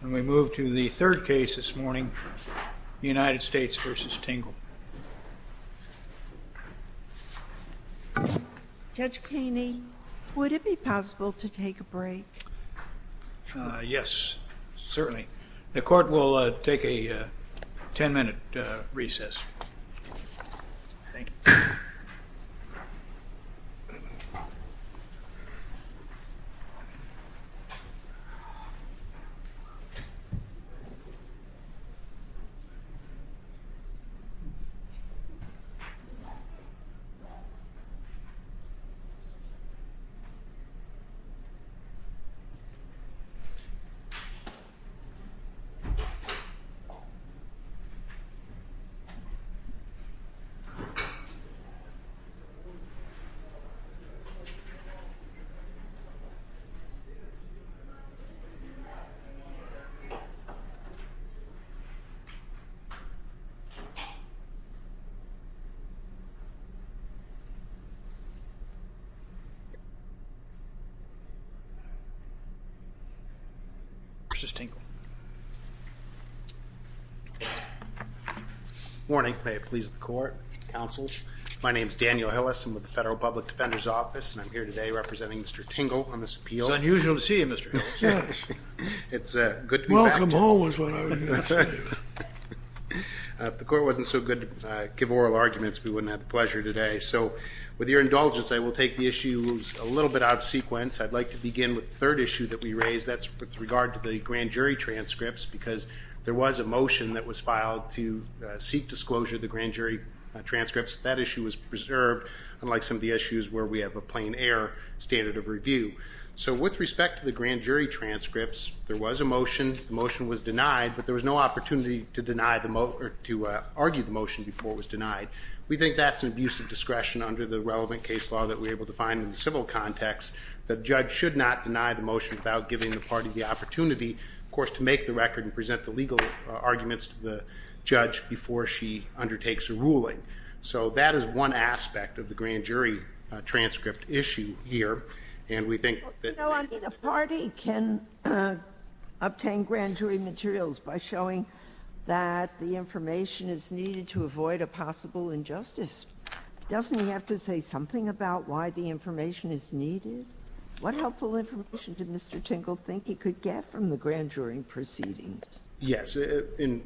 And we move to the third case this morning, United States v. Tingle. Judge Kleene, would it be possible to take a break? Yes, certainly. The court will take a ten-minute recess. Thank you. Mr. Tingle. Good morning. May it please the court, counsel. My name is Daniel Hillis. I'm with the Federal Public Defender's Office, and I'm here today representing Mr. Tingle on this appeal. It's unusual to see you, Mr. Hillis. Yes. It's good to be back. Welcome home is what I was going to say. If the court wasn't so good to give oral arguments, we wouldn't have the pleasure today. So with your indulgence, I will take the issues a little bit out of sequence. I'd like to begin with the third issue that we raised. That's with regard to the grand jury transcripts, because there was a motion that was filed to seek disclosure of the grand jury transcripts. That issue was preserved, unlike some of the issues where we have a plain air standard of review. So with respect to the grand jury transcripts, there was a motion. The motion was denied, but there was no opportunity to argue the motion before it was denied. We think that's an abuse of discretion under the relevant case law that we're able to find in the civil context, that a judge should not deny the motion without giving the party the opportunity, of course, to make the record and present the legal arguments to the judge before she undertakes a ruling. So that is one aspect of the grand jury transcript issue here, and we think that the issue of the grand jury transcripts that the information is needed to avoid a possible injustice. Doesn't he have to say something about why the information is needed? What helpful information did Mr. Tingle think he could get from the grand jury proceedings? Yes. In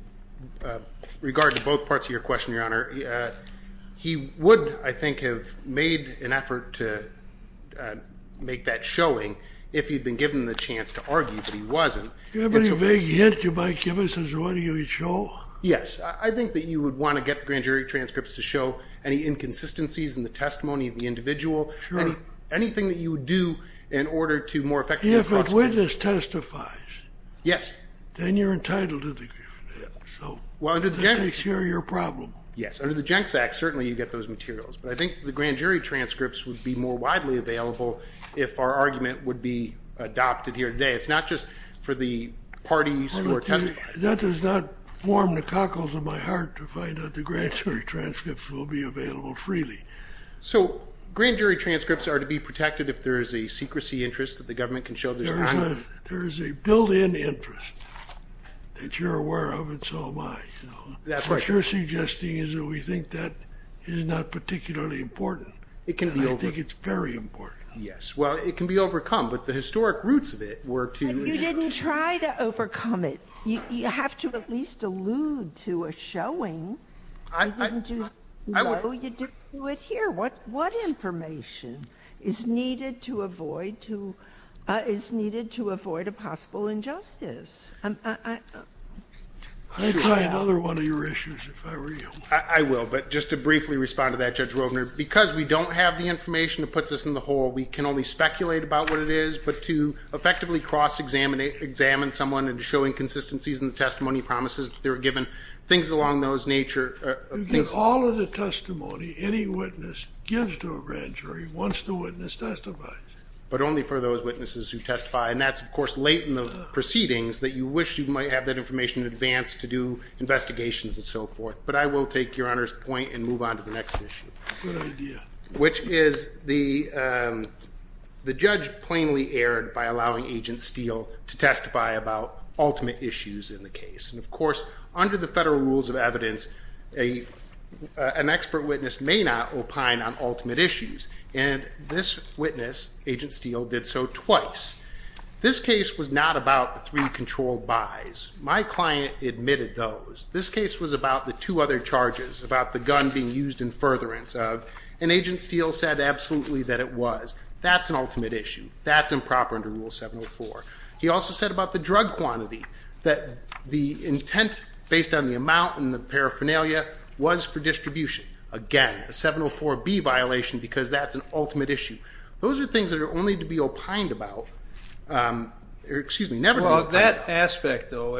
regard to both parts of your question, Your Honor, he would, I think, have made an effort to make that showing if he'd been given the chance to argue, but he wasn't. Do you have any vague hint you might give us as to what he would show? Yes. I think that you would want to get the grand jury transcripts to show any inconsistencies in the testimony of the individual. Sure. Anything that you would do in order to more effectively question. If a witness testifies. Yes. Then you're entitled to the grief. Well, under the Jenks Act. That takes care of your problem. Yes. Under the Jenks Act, certainly, you get those materials, but I think the grand jury transcripts would be more widely available if our argument would be adopted here today. It's not just for the parties who are testifying. That does not warm the cockles of my heart to find out the grand jury transcripts will be available freely. So grand jury transcripts are to be protected if there is a secrecy interest that the government can show this time? There is a built-in interest that you're aware of, and so am I. That's right. What you're suggesting is that we think that is not particularly important. It can be overcome. And I think it's very important. Yes. Well, it can be overcome, but the historic roots of it were to. But you didn't try to overcome it. You have to at least allude to a showing. I didn't do that. No, you didn't do it here. What information is needed to avoid a possible injustice? I'd try another one of your issues if I were you. I will. But just to briefly respond to that, Judge Wovner, because we don't have the information that puts us in the hole, we can only speculate about what it is. But to effectively cross-examine someone and show inconsistencies in the testimony promises that they were given, things along those nature. All of the testimony any witness gives to a grand jury once the witness testifies. But only for those witnesses who testify. And that's, of course, late in the proceedings that you wish you might have that information in advance to do investigations and so forth. But I will take Your Honor's point and move on to the next issue. Good idea. Which is the judge plainly erred by allowing Agent Steele to testify about ultimate issues in the case. And, of course, under the federal rules of evidence, an expert witness may not opine on ultimate issues. And this witness, Agent Steele, did so twice. This case was not about the three controlled buys. My client admitted those. This case was about the two other charges, about the gun being used in furtherance. And Agent Steele said absolutely that it was. That's an ultimate issue. That's improper under Rule 704. He also said about the drug quantity that the intent based on the amount and the paraphernalia was for distribution. Again, a 704B violation because that's an ultimate issue. Those are things that are only to be opined about. Excuse me, never to be opined about. Of that aspect, though,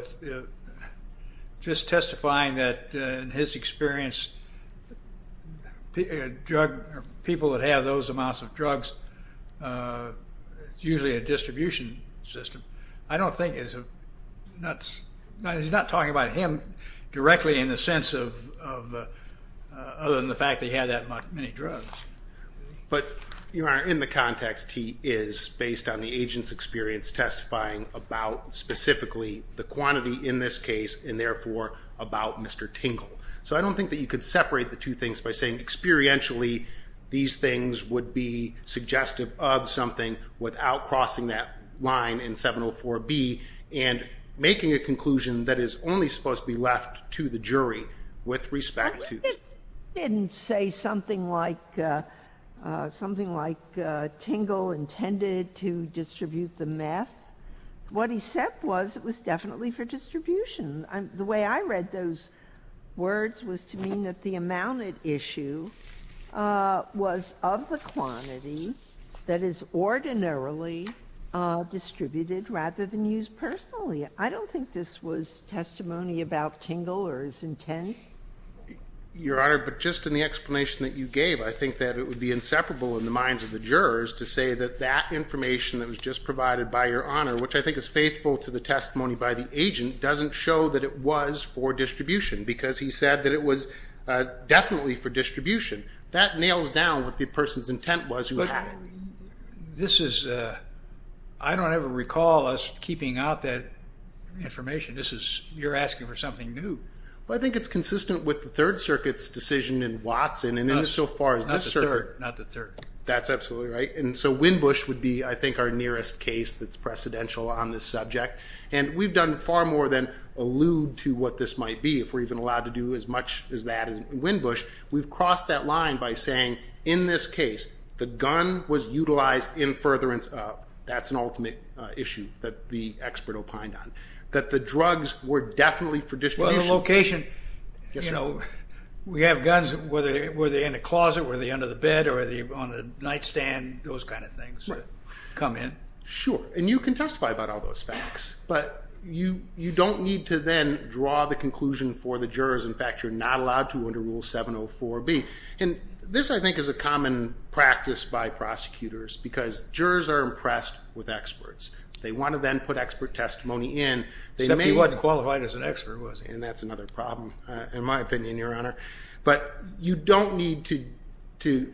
just testifying that, in his experience, people that have those amounts of drugs, it's usually a distribution system, I don't think it's nuts. He's not talking about him directly in the sense of other than the fact that he had that many drugs. But, Your Honor, in the context, he is, based on the agent's experience, testifying about specifically the quantity in this case and, therefore, about Mr. Tingle. So I don't think that you could separate the two things by saying experientially these things would be suggestive of something without crossing that line in 704B and making a conclusion that is only supposed to be left to the jury with respect to. I just didn't say something like Tingle intended to distribute the meth. What he said was it was definitely for distribution. The way I read those words was to mean that the amount at issue was of the quantity that is ordinarily distributed rather than used personally. I don't think this was testimony about Tingle or his intent. Your Honor, but just in the explanation that you gave, I think that it would be inseparable in the minds of the jurors to say that that information that was just provided by Your Honor, which I think is faithful to the testimony by the agent, doesn't show that it was for distribution because he said that it was definitely for distribution. That nails down what the person's intent was who had it. I don't ever recall us keeping out that information. You're asking for something new. Well, I think it's consistent with the Third Circuit's decision in Watson and in so far as this circuit. Not the Third. That's absolutely right. And so Winbush would be, I think, our nearest case that's precedential on this subject. And we've done far more than allude to what this might be if we're even allowed to do as much as that in Winbush. We've crossed that line by saying, in this case, the gun was utilized in furtherance of. That's an ultimate issue that the expert opined on. That the drugs were definitely for distribution. Well, the location. Yes, sir. You know, we have guns. Were they in a closet? Were they under the bed? Or were they on the nightstand? Those kind of things. Right. Come in. Sure. And you can testify about all those facts. But you don't need to then draw the conclusion for the jurors. In fact, you're not allowed to under Rule 704B. And this, I think, is a common practice by prosecutors. Because jurors are impressed with experts. They want to then put expert testimony in. Except he wasn't qualified as an expert, was he? And that's another problem, in my opinion, Your Honor. But you don't need to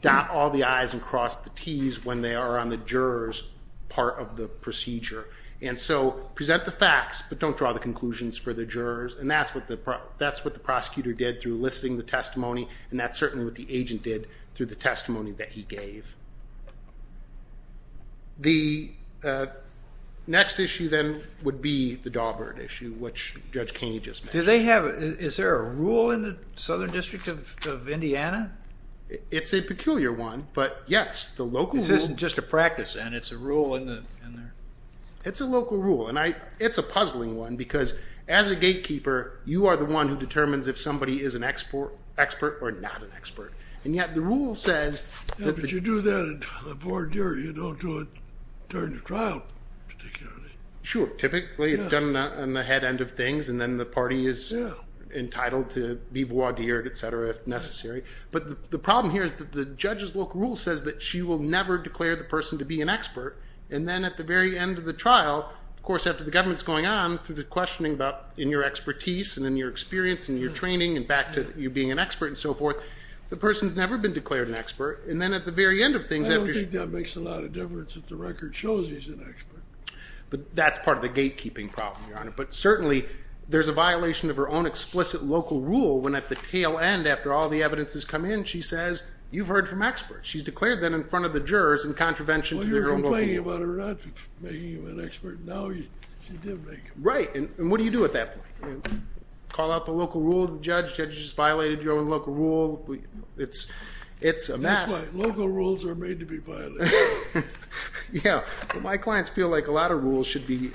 dot all the I's and cross the T's when they are on the juror's part of the procedure. And so present the facts. But don't draw the conclusions for the jurors. And that's what the prosecutor did through listing the testimony. And that's certainly what the agent did through the testimony that he gave. The next issue then would be the Dawbird issue, which Judge Kaney just mentioned. Is there a rule in the Southern District of Indiana? It's a peculiar one. But, yes, the local rule. This isn't just a practice, then. It's a rule in there. It's a local rule. And it's a puzzling one. Because as a gatekeeper, you are the one who determines if somebody is an expert or not an expert. And yet the rule says that the... Yeah, but you do that in a foreign jury. You don't do it during the trial, particularly. Sure. Typically, it's done on the head end of things. And then the party is entitled to be voir dire, et cetera, if necessary. But the problem here is that the judge's local rule says that she will never declare the person to be an expert. And then at the very end of the trial, of course, after the government is going on, through the questioning in your expertise and in your experience and your training and back to you being an expert and so forth, the person has never been declared an expert. And then at the very end of things... I don't think that makes a lot of difference if the record shows he's an expert. But that's part of the gatekeeping problem, Your Honor. But certainly there's a violation of her own explicit local rule when at the tail end, after all the evidence has come in, she says, you've heard from experts. She's declared that in front of the jurors in contravention to the rule. Well, you're complaining about her not making him an expert. Now she did make him. Right. And what do you do at that point? Call out the local rule of the judge? Judge has violated your own local rule? It's a mess. That's right. Local rules are made to be violated. Yeah. My clients feel like a lot of rules should be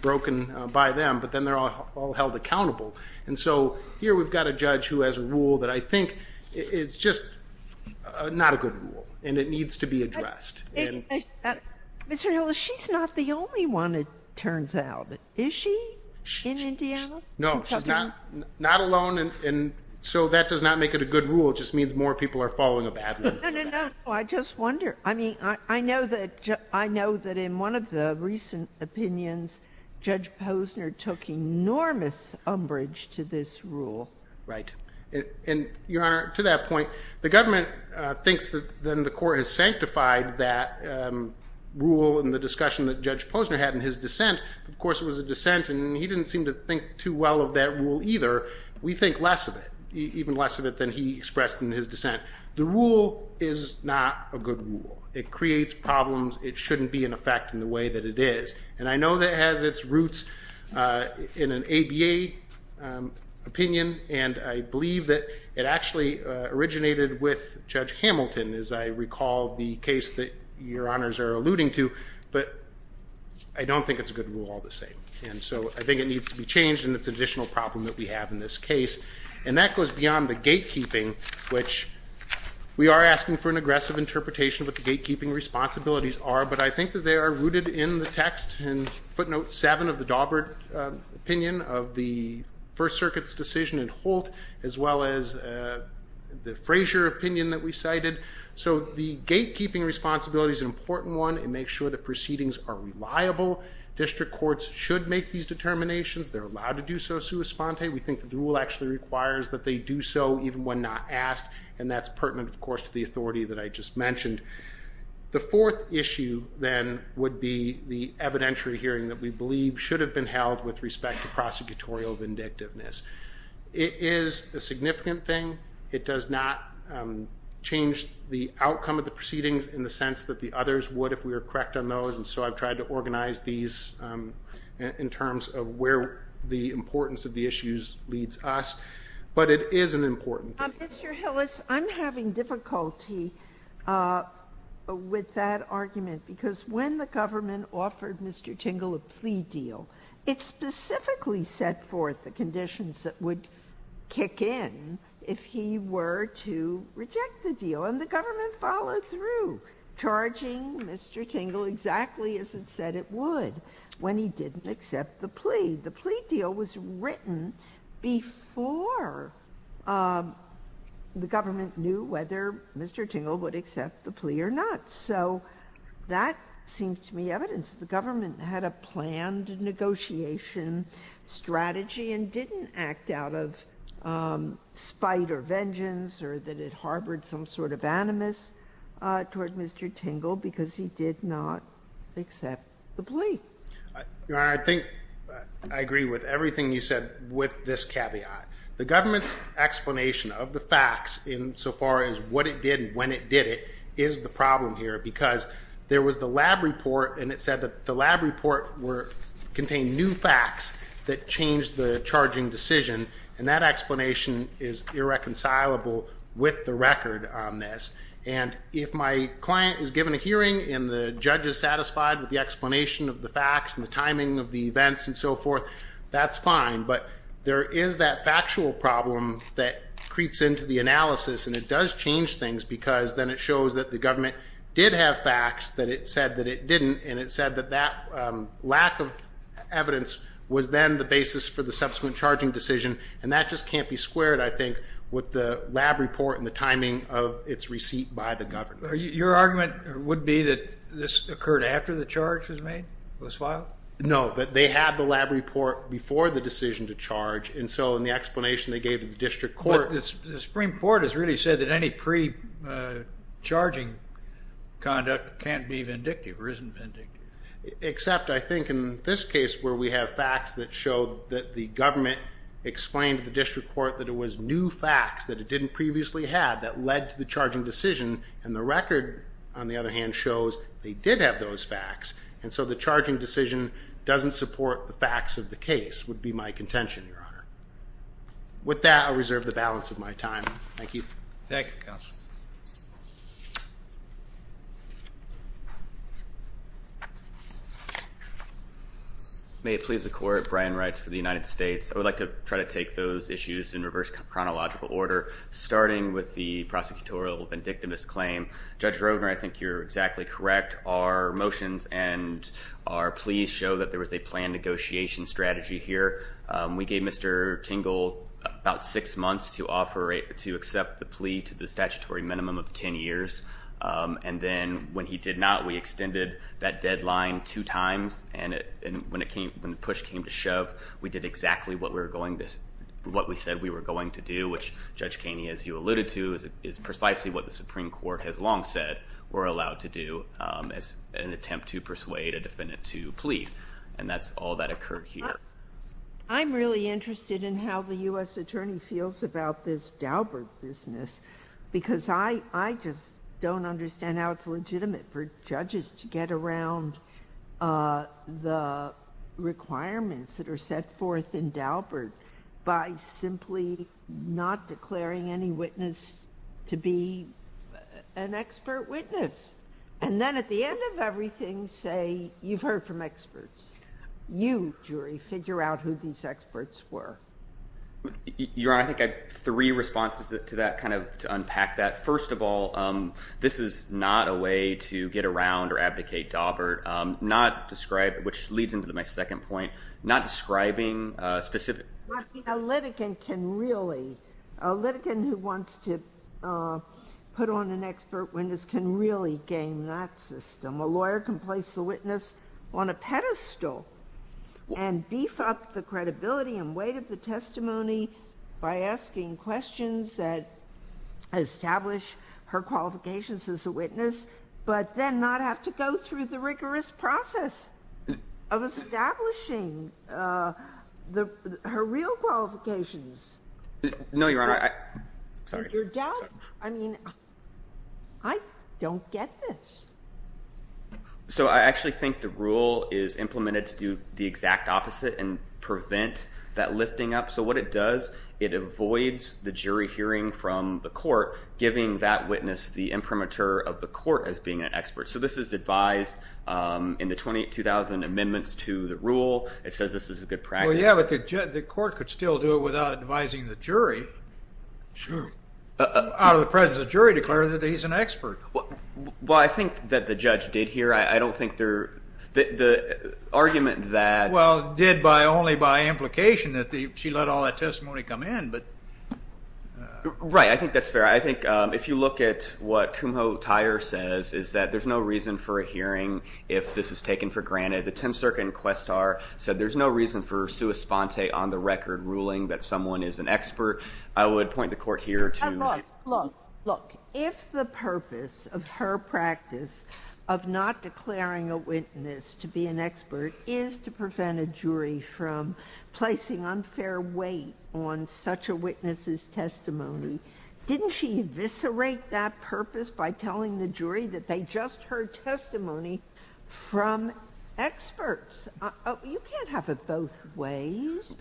broken by them, but then they're all held accountable. And so here we've got a judge who has a rule that I think is just not a good rule, and it needs to be addressed. Ms. Reola, she's not the only one, it turns out. Is she in Indiana? No. She's not alone. And so that does not make it a good rule. It just means more people are following a bad rule. No, no, no. I just wonder. I mean, I know that in one of the recent opinions, Judge Posner took enormous umbrage to this rule. Right. And, Your Honor, to that point, the government thinks that then the court has sanctified that rule in the discussion that Judge Posner had in his dissent. Of course, it was a dissent, and he didn't seem to think too well of that rule either. We think less of it, even less of it than he expressed in his dissent. The rule is not a good rule. It creates problems. It shouldn't be in effect in the way that it is. And I know that it has its roots in an ABA opinion, and I believe that it actually originated with Judge Hamilton, as I recall the case that Your Honors are alluding to, but I don't think it's a good rule all the same. And so I think it needs to be changed, and it's an additional problem that we have in this case. And that goes beyond the gatekeeping, which we are asking for an aggressive interpretation of what the gatekeeping responsibilities are, but I think that they are rooted in the text in footnote 7 of the Daubert opinion of the First Circuit's decision in Holt, as well as the Frazier opinion that we cited. So the gatekeeping responsibility is an important one. It makes sure the proceedings are reliable. District courts should make these determinations. They're allowed to do so sua sponte. We think that the rule actually requires that they do so even when not asked, and that's pertinent, of course, to the authority that I just mentioned. The fourth issue, then, would be the evidentiary hearing that we believe should have been held with respect to prosecutorial vindictiveness. It is a significant thing. It does not change the outcome of the proceedings in the sense that the others would if we were correct on those, and so I've tried to organize these in terms of where the importance of the issues leads us, but it is an important thing. Mr. Hillis, I'm having difficulty with that argument because when the government offered Mr. Tingle a plea deal, it specifically set forth the conditions that would kick in if he were to reject the deal, and the government followed through, charging Mr. Tingle exactly as it said it would when he didn't accept the plea. The plea deal was written before the government knew whether Mr. Tingle would accept the plea or not, so that seems to me evidence that the government had a planned negotiation strategy and didn't act out of spite or vengeance or that it harbored some sort of animus toward Mr. Tingle because he did not accept the plea. Your Honor, I think I agree with everything you said with this caveat. The government's explanation of the facts insofar as what it did and when it did it is the problem here because there was the lab report, and it said that the lab report contained new facts that changed the charging decision, and that explanation is irreconcilable with the record on this, and if my client is given a hearing and the judge is satisfied with the explanation of the facts and the timing of the events and so forth, that's fine, but there is that factual problem that creeps into the analysis, and it does change things because then it shows that the government did have facts that it said that it didn't, and it said that that lack of evidence was then the basis for the subsequent charging decision, and that just can't be squared, I think, with the lab report and the timing of its receipt by the government. Your argument would be that this occurred after the charge was made, was filed? No, that they had the lab report before the decision to charge, and so in the explanation they gave to the district court. But the Supreme Court has really said that any pre-charging conduct can't be vindictive or isn't vindictive. Except, I think, in this case where we have facts that show that the government explained to the district court that it was new facts that it didn't previously have that led to the charging decision, and the record, on the other hand, shows they did have those facts, and so the charging decision doesn't support the facts of the case would be my contention, Your Honor. With that, I reserve the balance of my time. Thank you. Thank you, Counsel. May it please the Court, Brian Wright for the United States. I would like to try to take those issues in reverse chronological order, starting with the prosecutorial vindictimous claim. Judge Roedner, I think you're exactly correct. Our motions and our pleas show that there was a planned negotiation strategy here. We gave Mr. Tingle about six months to accept the plea to the statutory minimum of ten years, and then when he did not, we extended that deadline two times, and when the push came to shove, we did exactly what we said we were going to do, which Judge Kaney, as you alluded to, is precisely what the Supreme Court has long said we're allowed to do as an attempt to persuade a defendant to plead, and that's all that occurred here. I'm really interested in how the U.S. Attorney feels about this Daubert business because I just don't understand how it's legitimate for judges to get around the requirements that are set forth in Daubert by simply not declaring any witness to be an expert witness and then at the end of everything say you've heard from experts. You, jury, figure out who these experts were. Your Honor, I think I have three responses to that, kind of to unpack that. First of all, this is not a way to get around or abdicate Daubert, not describe, which leads into my second point, not describing specific. A litigant can really, a litigant who wants to put on an expert witness can really game that system. A lawyer can place the witness on a pedestal and beef up the credibility and weight of the testimony by asking questions that establish her qualifications as a witness but then not have to go through the rigorous process of establishing her real qualifications. No, Your Honor. I don't get this. So I actually think the rule is implemented to do the exact opposite and prevent that lifting up. So what it does, it avoids the jury hearing from the court giving that witness the imprimatur of the court as being an expert. So this is advised in the 22,000 amendments to the rule. It says this is a good practice. Well, yeah, but the court could still do it without advising the jury. Sure. Out of the presence of the jury declare that he's an expert. Well, I think that the judge did hear. I don't think there, the argument that. Well, did only by implication that she let all that testimony come in. Right, I think that's fair. I think if you look at what Kumho Tyer says is that there's no reason for a hearing if this is taken for granted. The 10th Circuit Inquestar said there's no reason for sua sponte on the record ruling that someone is an expert. I would point the court here to. Look, if the purpose of her practice of not declaring a witness to be an expert is to prevent a jury from placing unfair weight on such a witness's testimony, didn't she eviscerate that purpose by telling the jury that they just heard testimony from experts? You can't have it both ways.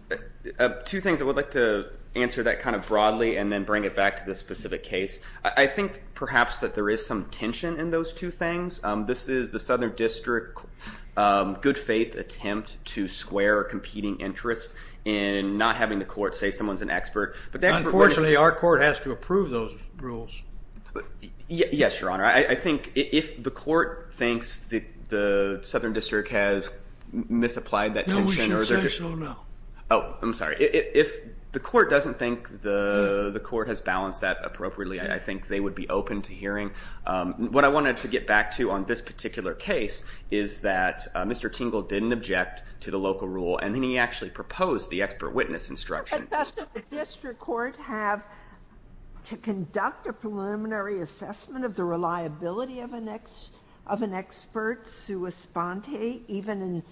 Two things. I would like to answer that kind of broadly and then bring it back to the specific case. I think perhaps that there is some tension in those two things. This is the Southern District good faith attempt to square a competing interest in not having the court say someone's an expert. Unfortunately, our court has to approve those rules. Yes, Your Honor. I think if the court thinks the Southern District has misapplied that tension. No, we should say so now. Oh, I'm sorry. If the court doesn't think the court has balanced that appropriately, I think they would be open to hearing. What I wanted to get back to on this particular case is that Mr. Tingle didn't object to the local rule, and then he actually proposed the expert witness instruction. Does the district court have to conduct a preliminary assessment of the reliability of an expert sua sponte even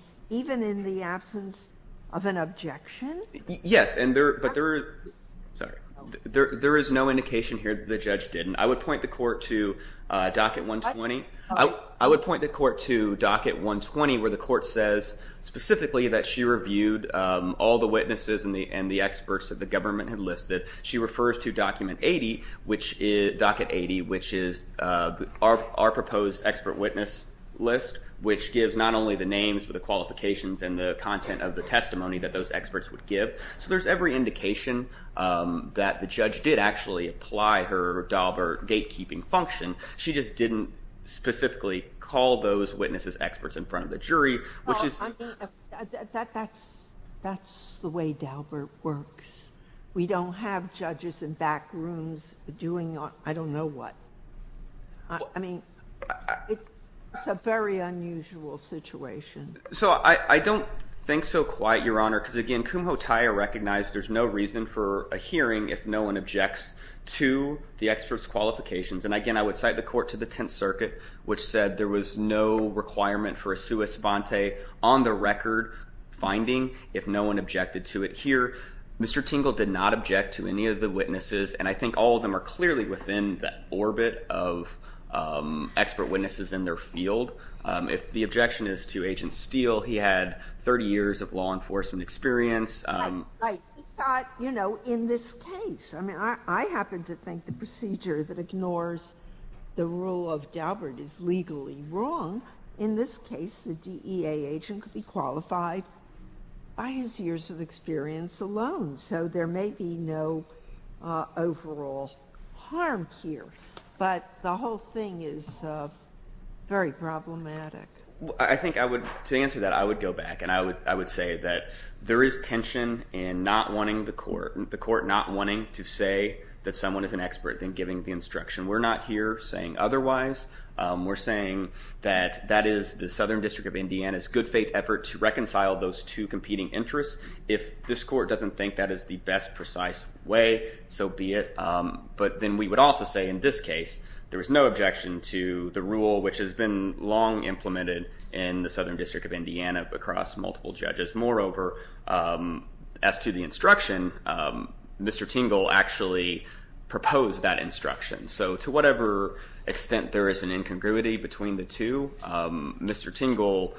in the absence of an objection? Yes, but there is no indication here that the judge didn't. I would point the court to docket 120. I would point the court to docket 120 where the court says specifically that she refers to docket 80, which is our proposed expert witness list, which gives not only the names but the qualifications and the content of the testimony that those experts would give. So there's every indication that the judge did actually apply her Daubert gatekeeping function. She just didn't specifically call those witnesses experts in front of the jury. That's the way Daubert works. We don't have judges in back rooms doing I don't know what. I mean, it's a very unusual situation. So I don't think so quite, Your Honor, because, again, Kumho Taya recognized there's no reason for a hearing if no one objects to the expert's qualifications. And, again, I would cite the court to the Tenth Circuit, which said there was no requirement for a sua sponte on the record finding if no one objected to it. Here, Mr. Tingle did not object to any of the witnesses, and I think all of them are clearly within the orbit of expert witnesses in their field. If the objection is to Agent Steele, he had 30 years of law enforcement experience. He thought, you know, in this case, I mean, I happen to think the procedure that ignores the rule of Daubert is legally wrong. In this case, the DEA agent could be qualified by his years of experience alone. So there may be no overall harm here. But the whole thing is very problematic. I think I would, to answer that, I would go back, and I would say that there is tension in not wanting the court, not wanting to say that someone is an expert in giving the instruction. We're not here saying otherwise. We're saying that that is the Southern District of Indiana's good faith effort to reconcile those two competing interests. If this court doesn't think that is the best precise way, so be it. But then we would also say, in this case, there was no objection to the rule, which has been long implemented in the Southern District of Indiana across multiple judges. Moreover, as to the instruction, Mr. Tingle actually proposed that instruction. So to whatever extent there is an incongruity between the two, Mr. Tingle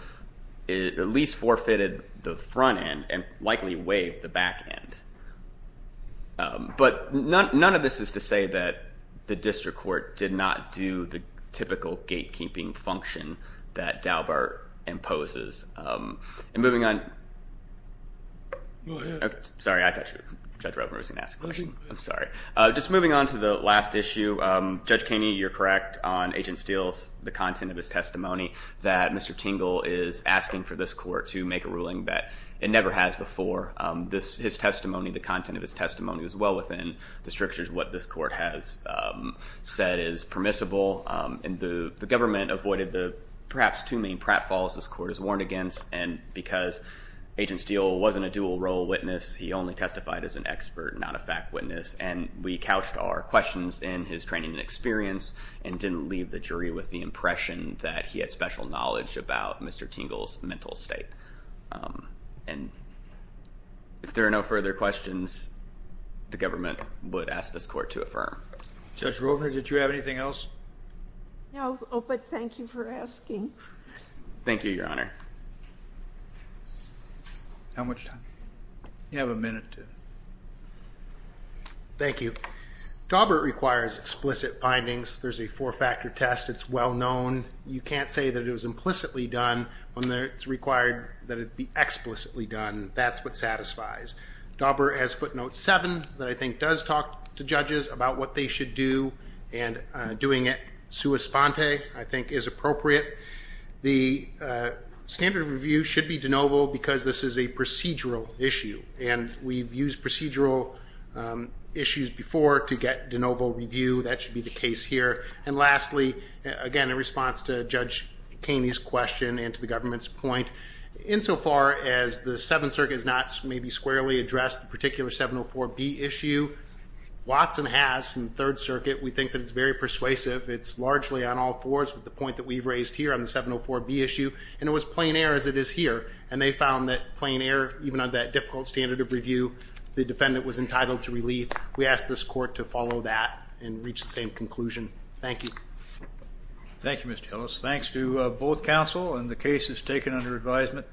at least forfeited the front end and likely waived the back end. But none of this is to say that the district court did not do the typical gatekeeping function that Daubert imposes. And moving on. Go ahead. Sorry, I thought Judge Roper was going to ask a question. I'm sorry. Just moving on to the last issue. Judge Keeney, you're correct on Agent Steele's, the content of his testimony, that Mr. Tingle is asking for this court to make a ruling that it never has before. His testimony, the content of his testimony, was well within the strictures of what this court has said is permissible. And the government avoided the perhaps too many pratfalls this court has warned against. And because Agent Steele wasn't a dual role witness, he only testified as an expert, not a fact witness. And we couched our questions in his training and experience and didn't leave the jury with the impression that he had special knowledge about Mr. Tingle's mental state. And if there are no further questions, the government would ask this court to affirm. No, but thank you for asking. Thank you, Your Honor. How much time? You have a minute to. Thank you. Daubert requires explicit findings. There's a four-factor test. It's well known. You can't say that it was implicitly done when it's required that it be explicitly done. That's what satisfies. Daubert has footnote seven that I think does talk to judges about what they should do and doing it sua sponte, I think is appropriate. The standard of review should be de novo because this is a procedural issue and we've used procedural issues before to get de novo review. That should be the case here. And lastly, again, in response to judge Kaney's question and to the government's point in so far as the seventh circuit is not maybe squarely addressed the particular 704 B issue Watson has in third circuit. We think that it's very persuasive. It's largely on all fours with the point that we've raised here on the 704 B issue and it was plain air as it is here. And they found that plain air, even on that difficult standard of review, the defendant was entitled to relief. We asked this court to follow that and reach the same conclusion. Thank you. Thank you, Mr. Ellis. Thanks to both council and the case is taken under advisement.